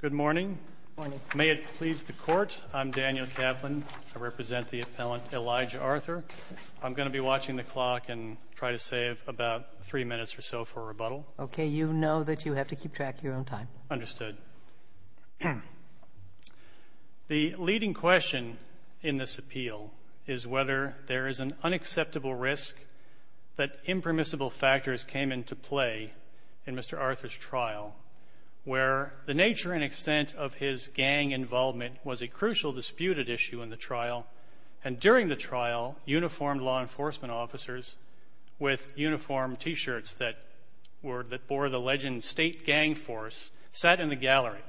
Good morning. May it please the Court, I'm Daniel Kaplan. I represent the appellant Elijah Arthur. I'm going to be watching the clock and try to save about three minutes or so for rebuttal. Okay, you know that you have to keep track of your own time. Understood. The leading question in this appeal is whether there is an unacceptable risk that impermissible factors came into play in the trial. The nature and extent of his gang involvement was a crucial disputed issue in the trial, and during the trial, uniformed law enforcement officers with uniformed T-shirts that bore the legend, State Gang Force, sat in the gallery.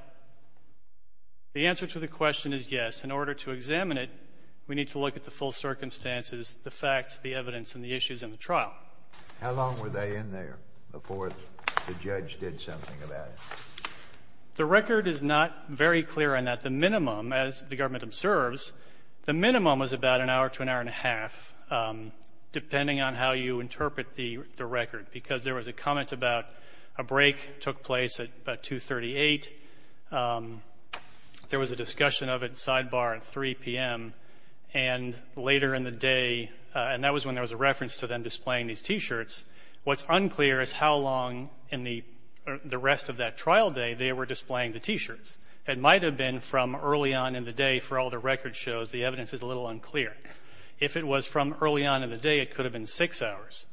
The answer to the question is yes. In order to examine it, we need to look at the full circumstances, the facts, the evidence, and the issues in the trial. How long were they in there before the judge did something about it? The record is not very clear on that. The minimum, as the government observes, the minimum was about an hour to an hour and a half, depending on how you interpret the record, because there was a comment about a break took place at about 2.38. There was a discussion of it sidebar at 3 p.m. And later in the day, and that was when there was a reference to them displaying these T-shirts, what's unclear is how long in the rest of that trial day they were displaying the T-shirts. It might have been from early on in the day for all the record shows. The evidence is a little unclear. If it was from early on in the day, it could have been six hours.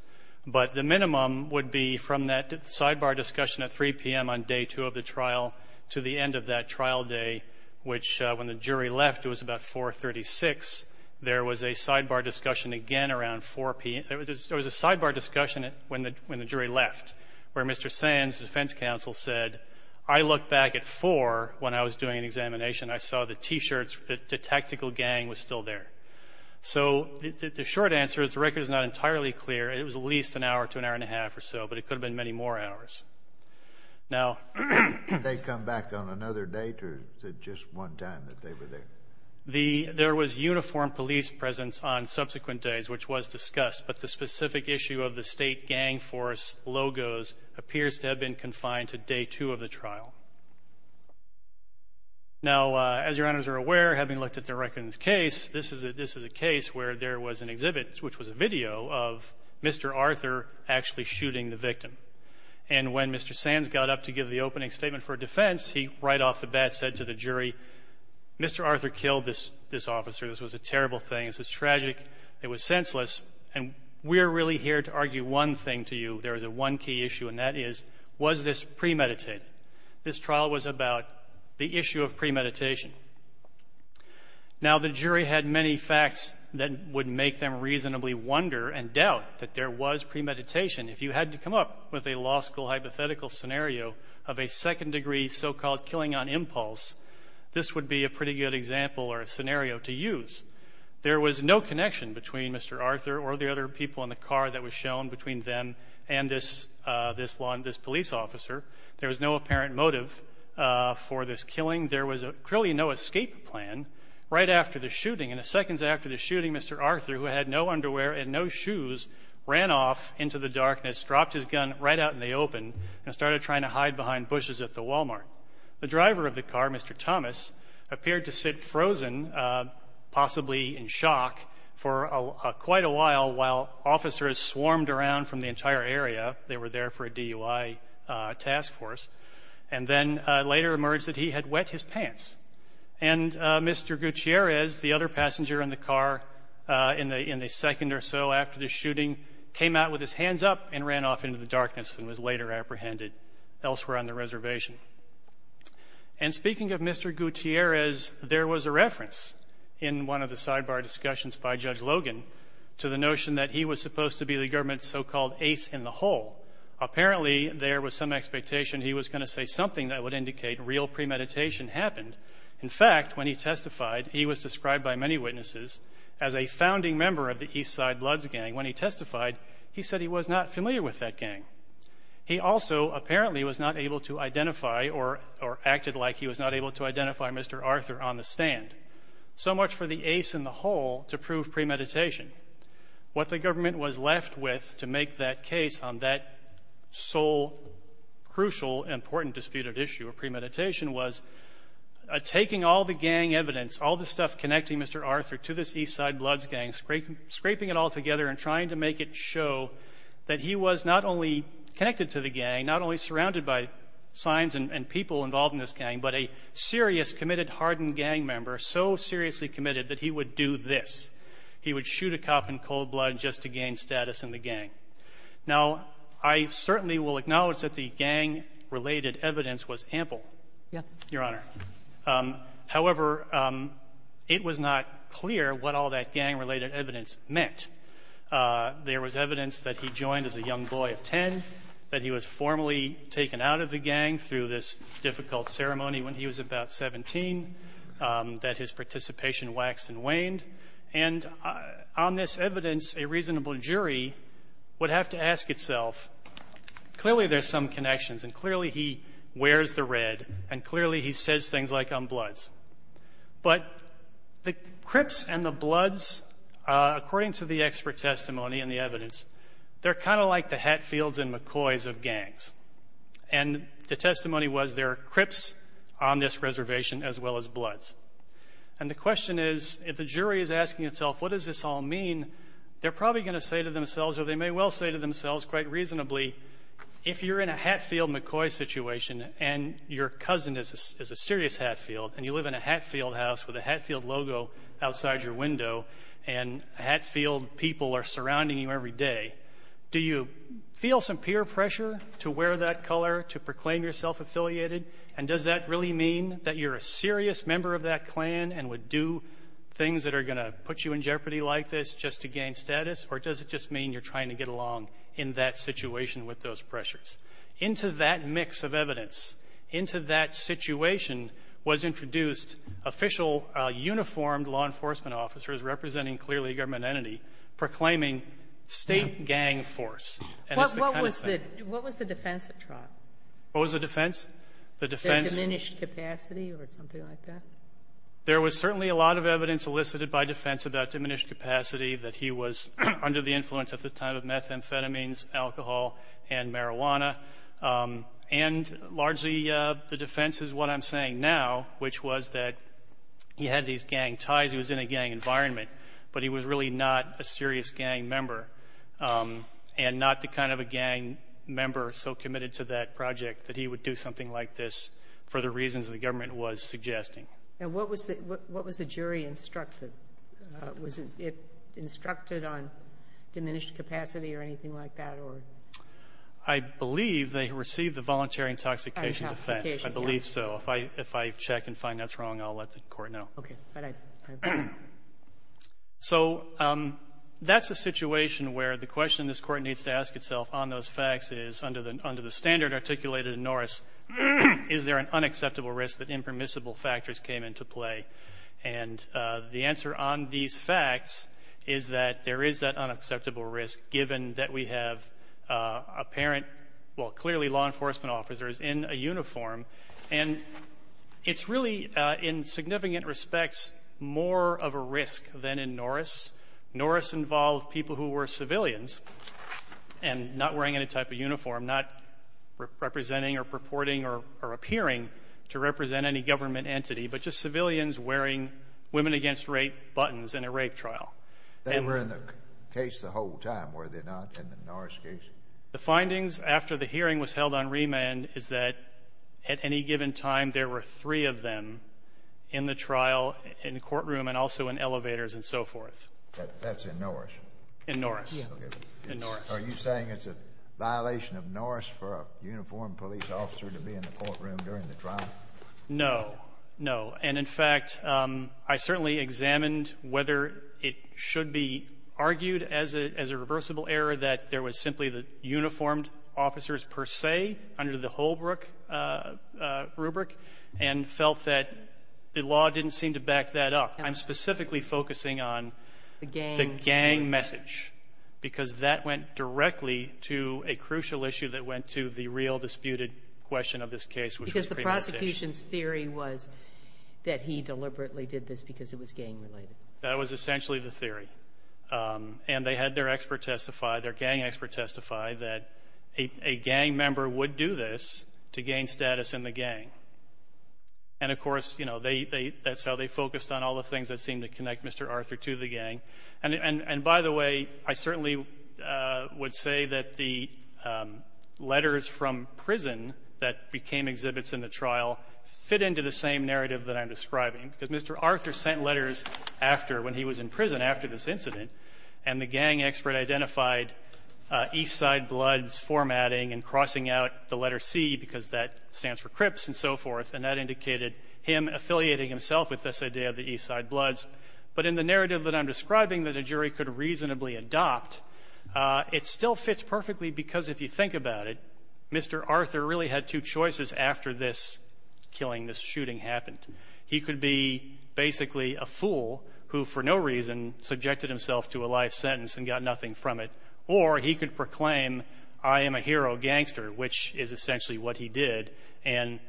But the minimum would be from that sidebar discussion at 3 p.m. on day two of the trial to the end of that trial day, which when the jury left, it was about 4.36. There was a sidebar discussion again around 4 p.m. There was a sidebar discussion when the jury left, where Mr. Sands, the defense counsel, said, I looked back at 4 when I was doing an examination. I saw the T-shirts. The tactical gang was still there. So the short answer is the record is not entirely clear. It was at least an hour to an hour and a half or so, but it could have been many more hours. Now they come back on another date, or is it just one time that they were there? There was uniform police presence on subsequent days, which was discussed. But the specific issue of the state gang force logos appears to have been confined to day two of the trial. Now, as your honors are aware, having looked at the record in this case, this is a case where there was an exhibit, which was a video of Mr. Arthur actually shooting the victim. And when Mr. Sands got up to give the opening statement for defense, he right off the bat said to the jury, Mr. Arthur killed this officer. This was a senseless, and we're really here to argue one thing to you. There is a one key issue, and that is, was this premeditated? This trial was about the issue of premeditation. Now, the jury had many facts that would make them reasonably wonder and doubt that there was premeditation. If you had to come up with a law school hypothetical scenario of a second degree so-called killing on impulse, this would be a pretty good example or a scenario to use. There was no connection between Mr. Arthur or the other people in the car that was shown between them and this police officer. There was no apparent motive for this killing. There was clearly no escape plan. Right after the shooting, in the seconds after the shooting, Mr. Arthur, who had no underwear and no shoes, ran off into the darkness, dropped his gun right out in the open, and started trying to hide behind bushes at the Walmart. The driver of the car, Mr. Thomas, appeared to sit frozen, possibly in shock, for quite a while while officers swarmed around from the entire area. They were there for a DUI task force. And then later emerged that he had wet his pants. And Mr. Gutierrez, the other passenger in the car in the second or so after the shooting, came out with his hands up and ran off into the darkness and was later apprehended elsewhere on the reservation. And speaking of Mr. Gutierrez, there was a reference in one of the sidebar discussions by Judge Logan to the notion that he was supposed to be the government's so-called ace in the hole. Apparently there was some expectation he was going to say something that would indicate real premeditation happened. In fact, when he testified, he was described by many witnesses as a founding member of the Eastside Bloods gang. When he testified, he said he was not familiar with that gang. He also apparently was not able to identify or acted like he was not able to identify Mr. Arthur on the stand. So much for the ace in the hole to prove premeditation. What the government was left with to make that case on that sole, crucial, important disputed issue of premeditation was taking all the gang evidence, all the stuff connecting Mr. Arthur to this Eastside Bloods gang, scraping it all together and trying to make it show that he was not only connected to the gang, not only surrounded by signs and people involved in this gang, but a serious, committed, hardened gang member, so seriously committed that he would do this. He would shoot a cop in cold blood just to gain status in the gang. Now, I certainly will acknowledge that the gang-related evidence was ample. Your Honor. However, it was not clear what all that gang-related evidence meant. There was evidence that he joined as a young boy of 10, that he was formally taken out of the gang through this difficult ceremony when he was about 17, that his participation waxed and waned. And on this evidence, a reasonable jury would have to ask itself, clearly there's some connections, and clearly he wears the red, and clearly he says things like become Bloods. But the Crips and the Bloods, according to the expert testimony and the evidence, they're kind of like the Hatfields and McCoys of gangs. And the testimony was there are Crips on this reservation as well as Bloods. And the question is, if the jury is asking itself, what does this all mean, they're probably going to say to themselves, or they may well say to themselves quite reasonably, if you're in a Hatfield-McCoy situation and your cousin is a serious Hatfield, and you live in a Hatfield house with a Hatfield logo outside your window, and Hatfield people are surrounding you every day, do you feel some peer pressure to wear that color, to proclaim yourself affiliated? And does that really mean that you're a serious member of that clan and would do things that are going to put you in jeopardy like this just to gain status? Or does it just mean you're trying to get along in that situation with those And in that situation was introduced official, uniformed law enforcement officers representing clearly a government entity proclaiming state gang force. And it's the kind of thing that we're talking about. What was the defense at trial? What was the defense? The defense of diminished capacity or something like that? There was certainly a lot of evidence elicited by defense about diminished capacity that he was under the influence at the time of methamphetamines, alcohol, and marijuana. And largely the defense is what I'm saying now, which was that he had these gang ties, he was in a gang environment, but he was really not a serious gang member and not the kind of a gang member so committed to that project that he would do something like this for the reasons the government was suggesting. And what was the jury instructed? Was it instructed on diminished capacity or anything like that or? I believe they received the voluntary intoxication defense. I believe so. If I check and find that's wrong, I'll let the Court know. Okay. But I don't know. So that's a situation where the question this Court needs to ask itself on those facts is under the standard articulated in Norris, is there an unacceptable risk that impermissible factors came into play? And the answer on these facts is that there is that unacceptable risk given that we have apparent, well, clearly law enforcement officers in a uniform. And it's really, in significant respects, more of a risk than in Norris. Norris involved people who were civilians and not wearing any type of uniform, not representing or purporting or appearing to represent any government entity, but just civilians wearing Women Against Rape buttons in a rape trial. They were in the case the whole time, were they not, in the Norris case? The findings after the hearing was held on remand is that at any given time, there were three of them in the trial, in the courtroom, and also in elevators and so forth. That's in Norris? In Norris. Yeah. In Norris. Are you saying it's a violation of Norris for a uniformed police officer to be in the courtroom during the trial? No. No. And, in fact, I certainly examined whether it should be argued as a reversible error that there was simply the uniformed officers per se under the Holbrook rubric, and felt that the law didn't seem to back that up. I'm specifically focusing on the gang message, because that went directly to a crucial issue that went to the real disputed question of this case, which was premeditation. Because the prosecution's theory was that he deliberately did this because it was gang-related. That was essentially the theory. And they had their expert testify, their gang expert testify, that a gang member would do this to gain status in the gang. And, of course, you know, that's how they focused on all the things that seemed to connect Mr. Arthur to the gang. And, by the way, I certainly would say that the letters from prison that became exhibits in the trial fit into the same narrative that I'm describing. Because Mr. Arthur sent letters after, when he was in prison, after this incident. And the gang expert identified Eastside Bloods formatting and crossing out the letter C, because that stands for Cripps and so forth. And that indicated him affiliating himself with this idea of the Eastside Bloods. But in the narrative that I'm describing that a jury could reasonably adopt, it still fits perfectly because, if you think about it, Mr. Arthur really had two choices after this killing, this shooting happened. He could be basically a fool who, for no reason, subjected himself to a life sentence and got nothing from it. Or he could proclaim, I am a hero gangster, which is essentially what he did, and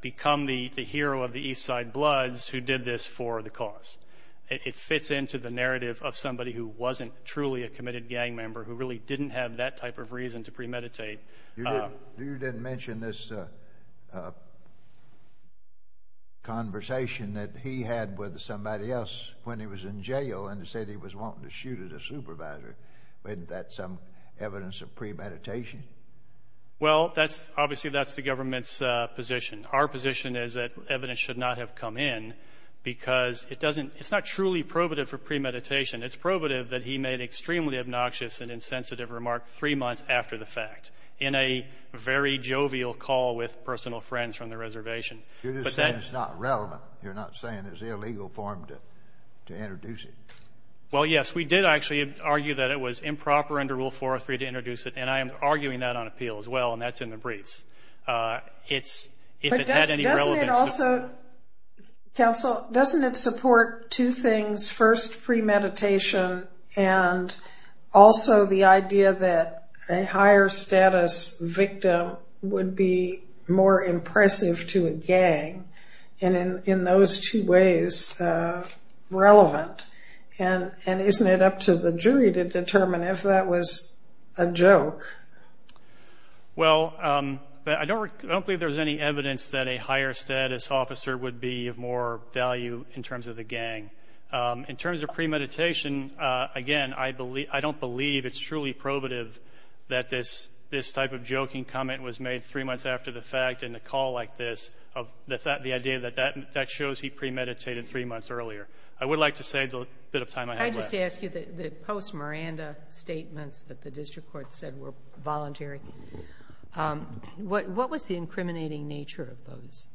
become the hero of the Eastside Bloods who did this for the cause. It fits into the narrative of somebody who wasn't truly a committed gang member, who really didn't have that type of reason to premeditate. You didn't mention this conversation that he had with somebody else when he was in jail and said he was wanting to shoot at a supervisor. Wasn't that some evidence of premeditation? Well, obviously, that's the government's position. Our position is that evidence should not have come in because it's not truly probative for premeditation. It's probative that he made an extremely obnoxious and insensitive remark three months after the fact in a very jovial call with personal friends from the reservation. You're just saying it's not relevant. You're not saying it's illegal for him to introduce it. Well, yes, we did actually argue that it was improper under Rule 403 to introduce it, and I am arguing that on appeal as well, and that's in the briefs. It's if it had any relevance to... But doesn't it also... Counsel, doesn't it support two things, first, premeditation, and also the idea that a higher status victim would be more impressive to a gang, and in those two ways, relevant? And isn't it up to the jury to determine if that was a joke? Well, I don't believe there's any evidence that a higher status officer would be of more value in terms of the gang. In terms of premeditation, again, I don't believe it's truly probative that this type of joking comment was made three months after the fact in a call like this, the idea that that shows he premeditated three months earlier. I would like to say the bit of time I have left. I just ask you, the post-Miranda statements that the district court said were voluntary, what was the incriminating nature of those?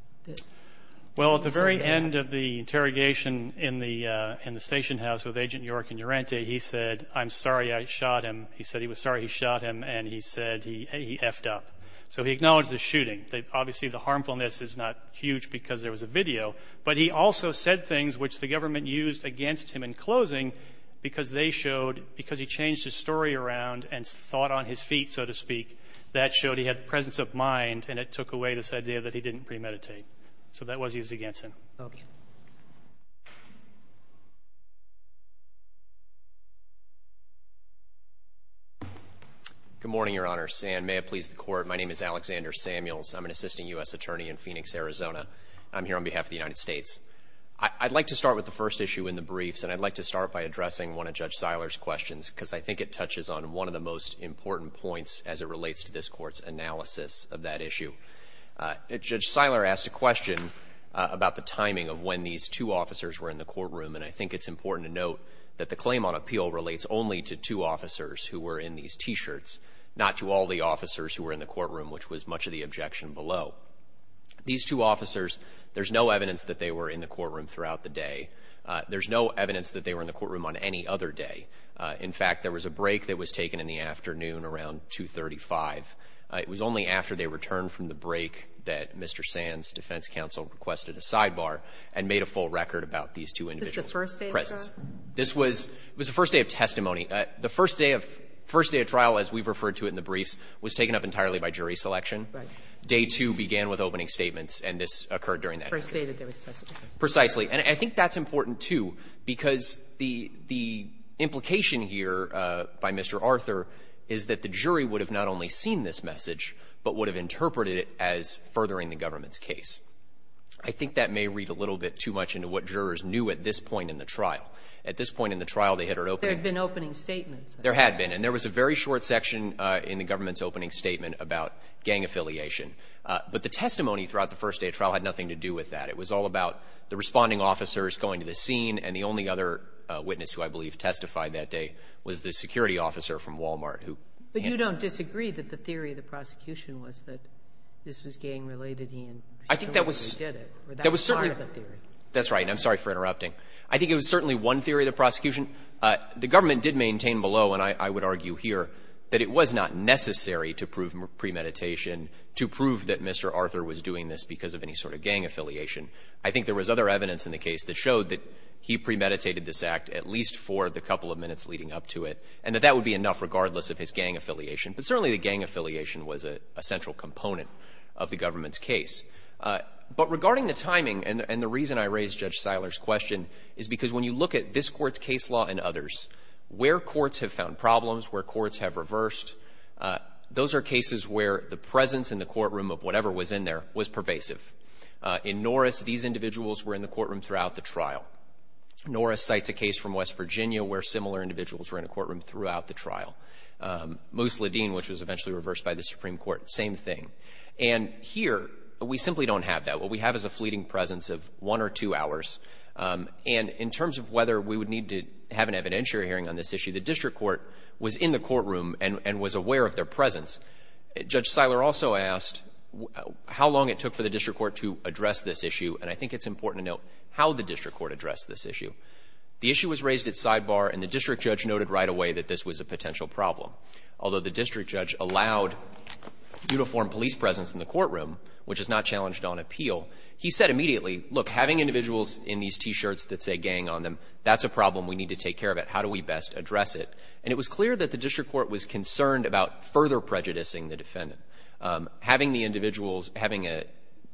Well, at the very end of the interrogation in the station house with Agent York and Urante, he said, I'm sorry I shot him. He said he was sorry he shot him, and he said he effed up. So he acknowledged the shooting. Obviously, the harmfulness is not huge because there was a video, but he also said things which the government used against him in closing because they showed, because he changed his story around and thought on his feet, so to speak, that showed he had the presence of mind, and it took away this idea that he didn't premeditate. So that was used against him. Roberts. Good morning, Your Honor. And may it please the Court, my name is Alexander Samuels. I'm an assisting U.S. attorney in Phoenix, Arizona. I'm here on behalf of the United States. I'd like to start with the first issue in the briefs, and I'd like to start by addressing one of Judge Seiler's questions because I think it touches on one of the most important points as it relates to this Court's analysis of that issue. Judge Seiler asked a question about the timing of when these two officers were in the courtroom, and I think it's important to note that the claim on appeal relates only to two officers who were in these T-shirts, not to all the officers who were in the courtroom, which was much of the objection below. These two officers, there's no evidence that they were in the courtroom throughout the day. There's no evidence that they were in the courtroom on any other day. In fact, there was a break that was taken in the afternoon around 235. It was only after they returned from the break that Mr. Sands' defense counsel requested a sidebar and made a full record about these two individuals' presence. Is this the first day of trial? This was the first day of testimony. The first day of trial, as we've referred to it in the briefs, was taken up entirely by jury selection. Right. Day two began with opening statements, and this occurred during that period. The first day that there was testimony. Precisely. And I think that's important, too, because the implication here by Mr. Arthur is that the jury would have not only seen this message, but would have interpreted it as furthering the government's case. I think that may read a little bit too much into what jurors knew at this point in the trial. At this point in the trial, they had an opening statement. There had been opening statements. There had been. And there was a very short section in the government's opening statement about gang affiliation. But the testimony throughout the first day of trial had nothing to do with that. It was all about the responding officers going to the scene, and the only other witness who I believe testified that day was the security officer from Walmart who. But you don't disagree that the theory of the prosecution was that this was gang-related, Ian? I think that was. Or that was part of the theory. That's right. And I'm sorry for interrupting. I think it was certainly one theory of the prosecution. The government did maintain below, and I would argue here, that it was not necessary to prove premeditation to prove that Mr. Arthur was doing this because of any sort of gang affiliation. I think there was other evidence in the case that showed that he premeditated this act at least for the couple of minutes leading up to it, and that that would be enough regardless of his gang affiliation. But certainly the gang affiliation was a central component of the government's case. But regarding the timing, and the reason I raised Judge Seiler's question is because when you look at this Court's case law and others, where courts have found problems, where courts have reversed, those are cases where the presence in the courtroom of whatever was in there was pervasive. In Norris, these individuals were in the courtroom throughout the trial. Norris cites a case from West Virginia where similar individuals were in a courtroom throughout the trial. Moose Ledeen, which was eventually reversed by the Supreme Court, same thing. And here, we simply don't have that. What we have is a fleeting presence of one or two hours. And in terms of whether we would need to have an evidentiary hearing on this issue, the district court was in the courtroom and was aware of their presence. Judge Seiler also asked how long it took for the district court to address this issue. And I think it's important to note how the district court addressed this issue. The issue was raised at sidebar, and the district judge noted right away that this was a potential problem. Although the district judge allowed uniformed police presence in the courtroom, which is not challenged on appeal, he said immediately, look, having individuals in these T-shirts that say gang on them, that's a problem. We need to take care of it. How do we best address it? And it was clear that the district court was concerned about further prejudicing the defendant. Having the individuals, having a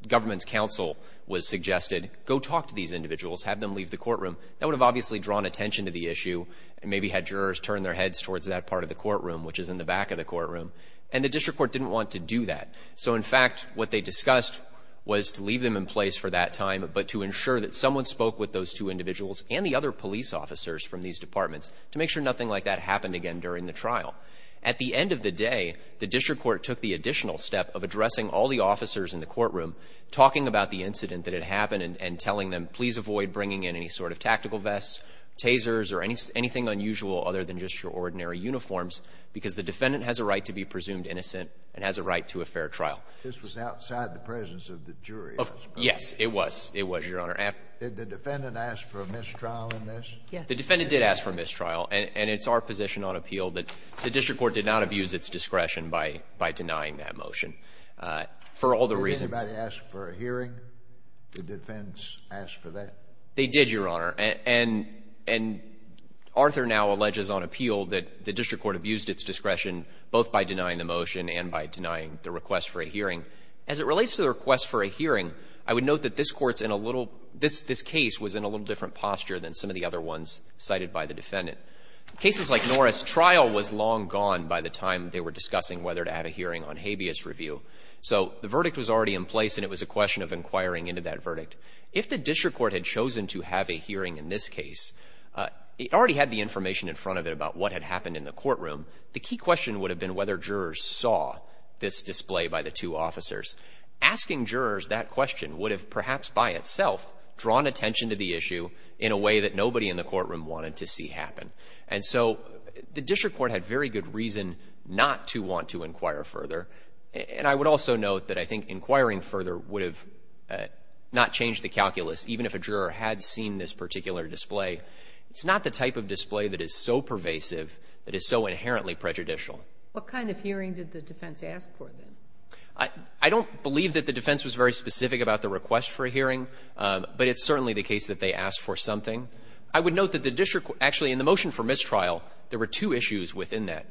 government's counsel was suggested, go talk to these individuals, have them leave the courtroom. That would have obviously drawn attention to the issue and maybe had jurors turn their heads towards that part of the courtroom, which is in the back of the courtroom. And the district court didn't want to do that. So, in fact, what they discussed was to leave them in place for that time, but to ensure that someone spoke with those two individuals and the other police officers from these departments to make sure nothing like that happened again during the trial. At the end of the day, the district court took the additional step of addressing all the officers in the courtroom, talking about the incident that had happened and telling them, please avoid bringing in any sort of tactical vests, tasers or anything unusual other than just your ordinary uniforms, because the defendant has a right to be presumed innocent and has a right to a fair trial. This was outside the presence of the jury, I suppose. Yes, it was. It was, Your Honor. Did the defendant ask for a mistrial in this? Yes. The defendant did ask for a mistrial, and it's our position on appeal that the district court did not abuse its discretion by denying that motion, for all the reasons Did anybody ask for a hearing? Did the defense ask for that? They did, Your Honor, and Arthur now alleges on appeal that the district court abused its discretion both by denying the motion and by denying the request for a hearing. As it relates to the request for a hearing, I would note that this court's in a little This case was in a little different posture than some of the other ones cited by the defendant. Cases like Norris' trial was long gone by the time they were discussing whether to have a hearing on habeas review. So the verdict was already in place, and it was a question of inquiring into that verdict. If the district court had chosen to have a hearing in this case, it already had the information in front of it about what had happened in the courtroom. The key question would have been whether jurors saw this display by the two officers. Asking jurors that question would have perhaps by itself drawn attention to the issue in a way that nobody in the courtroom wanted to see happen. And so the district court had very good reason not to want to inquire further. And I would also note that I think inquiring further would have not changed the calculus, even if a juror had seen this particular display. It's not the type of display that is so pervasive that is so inherently prejudicial. What kind of hearing did the defense ask for, then? I don't believe that the defense was very specific about the request for a hearing, but it's certainly the case that they asked for something. I would note that the district court actually in the motion for mistrial, there were two issues within that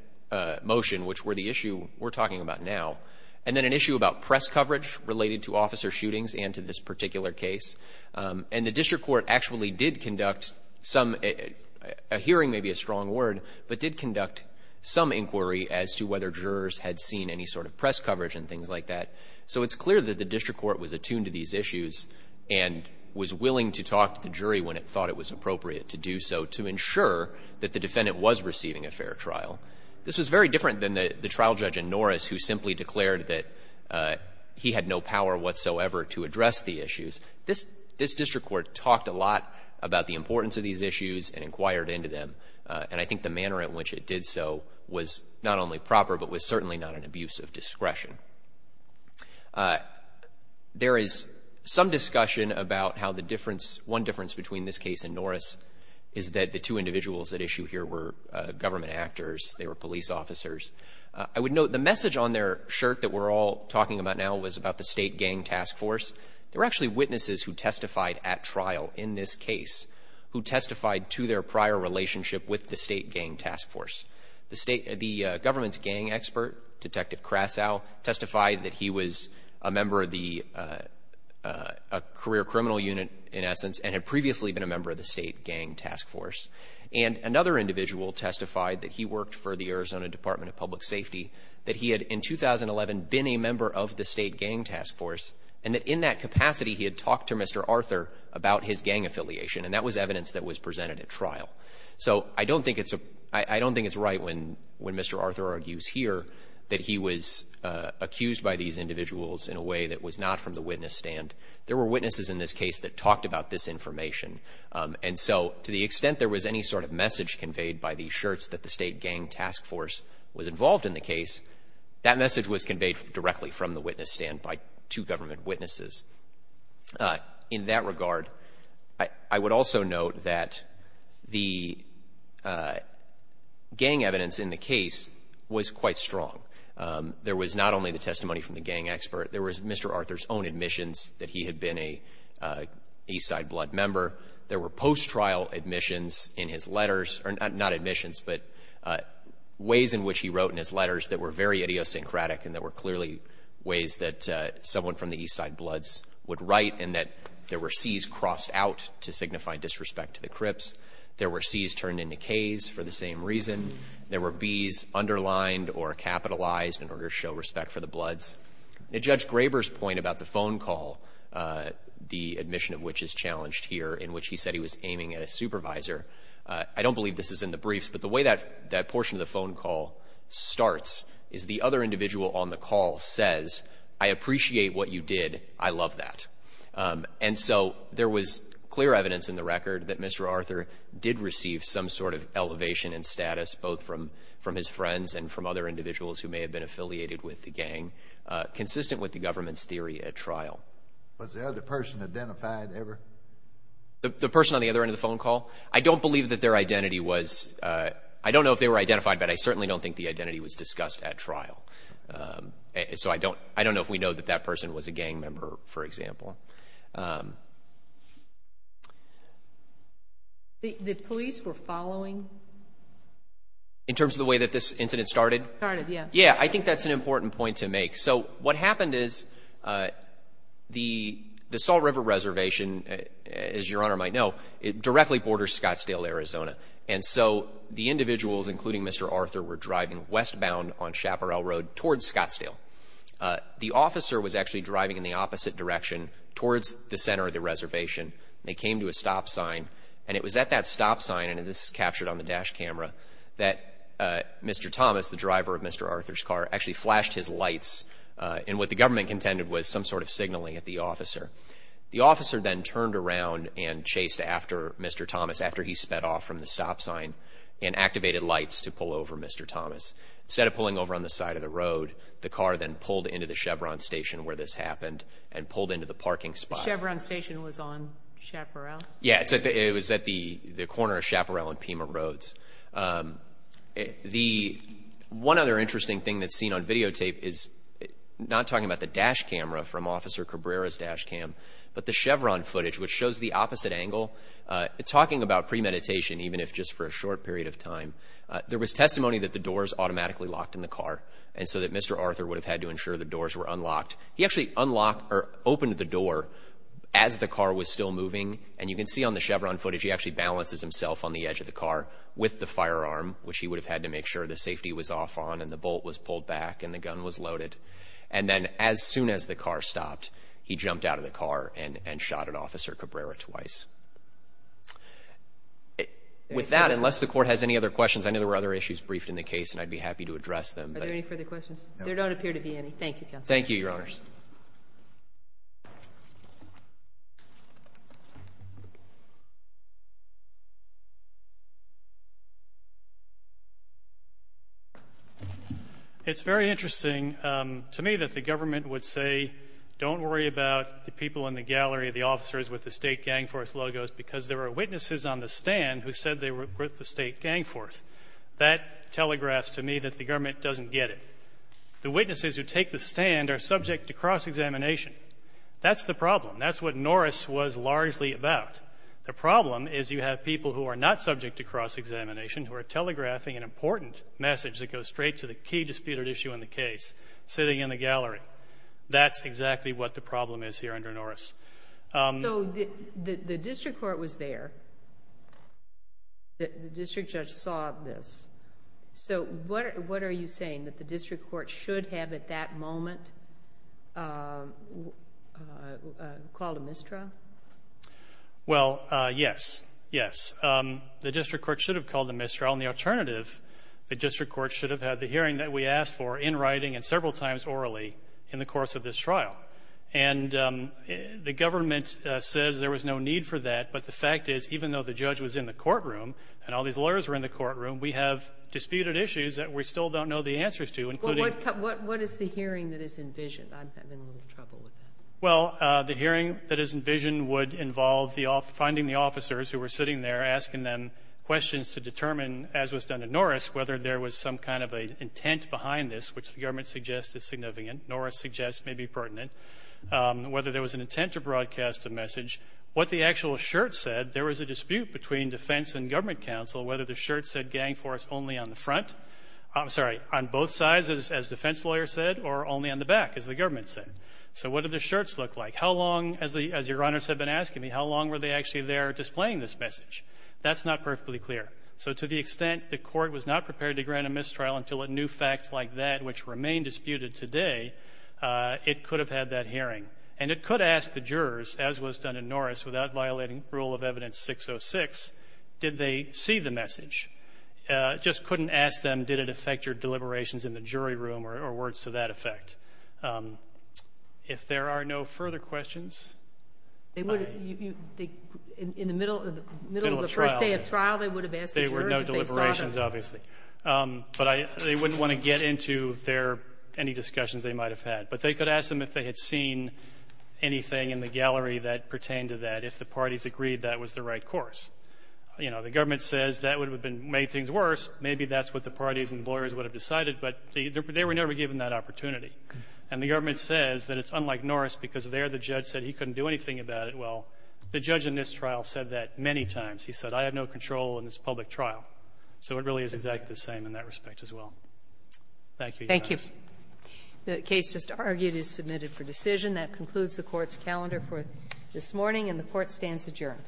motion which were the issue we're talking about now, and then an issue about press coverage related to officer shootings and to this particular case. And the district court actually did conduct some – a hearing may be a strong word, but did conduct some inquiry as to whether jurors had seen any sort of press coverage and things like that. So it's clear that the district court was attuned to these issues and was willing to talk to the jury when it thought it was appropriate to do so to ensure that the defendant was receiving a fair trial. This was very different than the trial judge in Norris who simply declared that he had no power whatsoever to address the issues. This district court talked a lot about the importance of these issues and inquired into them, and I think the manner in which it did so was not only proper, but was certainly not an abuse of discretion. There is some discussion about how the difference – one difference between this case and Norris is that the two individuals at issue here were government actors, they were police officers. I would note the message on their shirt that we're all talking about now was about the state gang task force. There were actually witnesses who testified at trial in this case who testified to their prior relationship with the state gang task force. The state – the government's gang expert, Detective Crasow, testified that he was a member of the – a career criminal unit, in essence, and had previously been a member of the state gang task force. And another individual testified that he worked for the Arizona Department of Public Safety, that he had, in 2011, been a member of the state gang task force, and that in that capacity he had talked to Mr. Arthur about his gang affiliation, and that was evidence that was presented at trial. So I don't think it's a – I don't think it's right when – when Mr. Arthur argues here that he was accused by these individuals in a way that was not from the witness stand. There were witnesses in this case that talked about this information, and so to the extent there was any sort of message conveyed by these shirts that the state gang task force was involved in the case, that message was conveyed directly from the witness stand by two government witnesses. In that regard, I would also note that the gang evidence in the case was quite strong. There was not only the testimony from the gang expert. There was Mr. Arthur's own admissions that he had been a Eastside Blood member. There were post-trial admissions in his letters – or not admissions, but ways in which he wrote in his letters that were very idiosyncratic and that were clearly ways that someone from the Eastside Bloods would write, and that there were Cs crossed out to signify disrespect to the Crips. There were Cs turned into Ks for the same reason. There were Bs underlined or capitalized in order to show respect for the Bloods. Judge Graber's point about the phone call, the admission of which is challenged here, in which he said he was aiming at a supervisor, I don't believe this is in the briefs, but the way that – that portion of the phone call starts is the other individual on the I love that. And so there was clear evidence in the record that Mr. Arthur did receive some sort of elevation and status, both from his friends and from other individuals who may have been affiliated with the gang, consistent with the government's theory at trial. Was the other person identified ever? The person on the other end of the phone call? I don't believe that their identity was – I don't know if they were identified, but I certainly don't think the identity was discussed at trial. And so I don't – I don't know if we know that that person was a gang member, for example. The police were following? In terms of the way that this incident started? Started, yeah. Yeah. I think that's an important point to make. So what happened is the – the Salt River Reservation, as Your Honor might know, it directly borders Scottsdale, Arizona. And so the individuals, including Mr. Arthur, were driving westbound on Chaparral Road towards Scottsdale. The officer was actually driving in the opposite direction towards the center of the reservation. They came to a stop sign, and it was at that stop sign – and this is captured on the dash camera – that Mr. Thomas, the driver of Mr. Arthur's car, actually flashed his lights in what the government contended was some sort of signaling at the officer. The officer then turned around and chased after Mr. Thomas after he sped off from the stop sign and activated lights to pull over Mr. Thomas. Instead of pulling over on the side of the road, the car then pulled into the Chevron station where this happened and pulled into the parking spot. The Chevron station was on Chaparral? Yeah. It was at the corner of Chaparral and Pima Roads. The – one other interesting thing that's seen on videotape is – but the Chevron footage, which shows the opposite angle, talking about premeditation, even if just for a short period of time, there was testimony that the doors automatically locked in the car and so that Mr. Arthur would have had to ensure the doors were unlocked. He actually unlocked or opened the door as the car was still moving, and you can see on the Chevron footage he actually balances himself on the edge of the car with the firearm, which he would have had to make sure the safety was off on and the bolt was pulled back and the gun was loaded. And then as soon as the car stopped, he jumped out of the car and shot at Officer Cabrera twice. With that, unless the Court has any other questions, I know there were other issues briefed in the case and I'd be happy to address them. Are there any further questions? There don't appear to be any. Thank you, Counsel. Thank you, Your Honors. Thank you. It's very interesting to me that the government would say, don't worry about the people in the gallery, the officers with the state gang force logos, because there were witnesses on the stand who said they were with the state gang force. That telegraphs to me that the government doesn't get it. The witnesses who take the stand are subject to cross-examination. That's the problem. That's what Norris was largely about. The problem is you have people who are not subject to cross-examination who are telegraphing an important message that goes straight to the key disputed issue in the case sitting in the gallery. That's exactly what the problem is here under Norris. So the district court was there. The district judge saw this. So what are you saying, that the district court should have at that moment called a mistrial? Well, yes. Yes. The district court should have called a mistrial, and the alternative, the district court should have had the hearing that we asked for in writing and several times orally in the course of this trial. And the government says there was no need for that, but the fact is even though the judge was in the courtroom and all these lawyers were in the courtroom, we have disputed issues that we still don't know the answers to, including What is the hearing that is envisioned? I'm having a little trouble with that. Well, the hearing that is envisioned would involve finding the officers who were sitting there asking them questions to determine, as was done in Norris, whether there was some kind of an intent behind this, which the government suggests is significant. Whether there was an intent to broadcast a message. What the actual shirt said, there was a dispute between defense and government counsel whether the shirt said gang force only on the front. I'm sorry. On both sides, as defense lawyers said, or only on the back, as the government said. So what did the shirts look like? How long, as Your Honors have been asking me, how long were they actually there displaying this message? That's not perfectly clear. So to the extent the court was not prepared to grant a mistrial until it knew facts like that which remain disputed today, it could have had that hearing. And it could ask the jurors, as was done in Norris, without violating Rule of Evidence 606, did they see the message. Just couldn't ask them, did it affect your deliberations in the jury room or words to that effect. If there are no further questions, I am. In the middle of the first day of trial, they would have asked the jurors if they saw them. There were no deliberations, obviously. But they wouldn't want to get into their any discussions they might have had. But they could ask them if they had seen anything in the gallery that pertained to that, if the parties agreed that was the right course. You know, the government says that would have made things worse. Maybe that's what the parties and lawyers would have decided. But they were never given that opportunity. And the government says that it's unlike Norris because there the judge said he couldn't do anything about it. Well, the judge in this trial said that many times. He said, I have no control in this public trial. So it really is exactly the same in that respect as well. Thank you, Your Honors. The case just argued is submitted for decision. That concludes the Court's calendar for this morning, and the Court stands adjourned.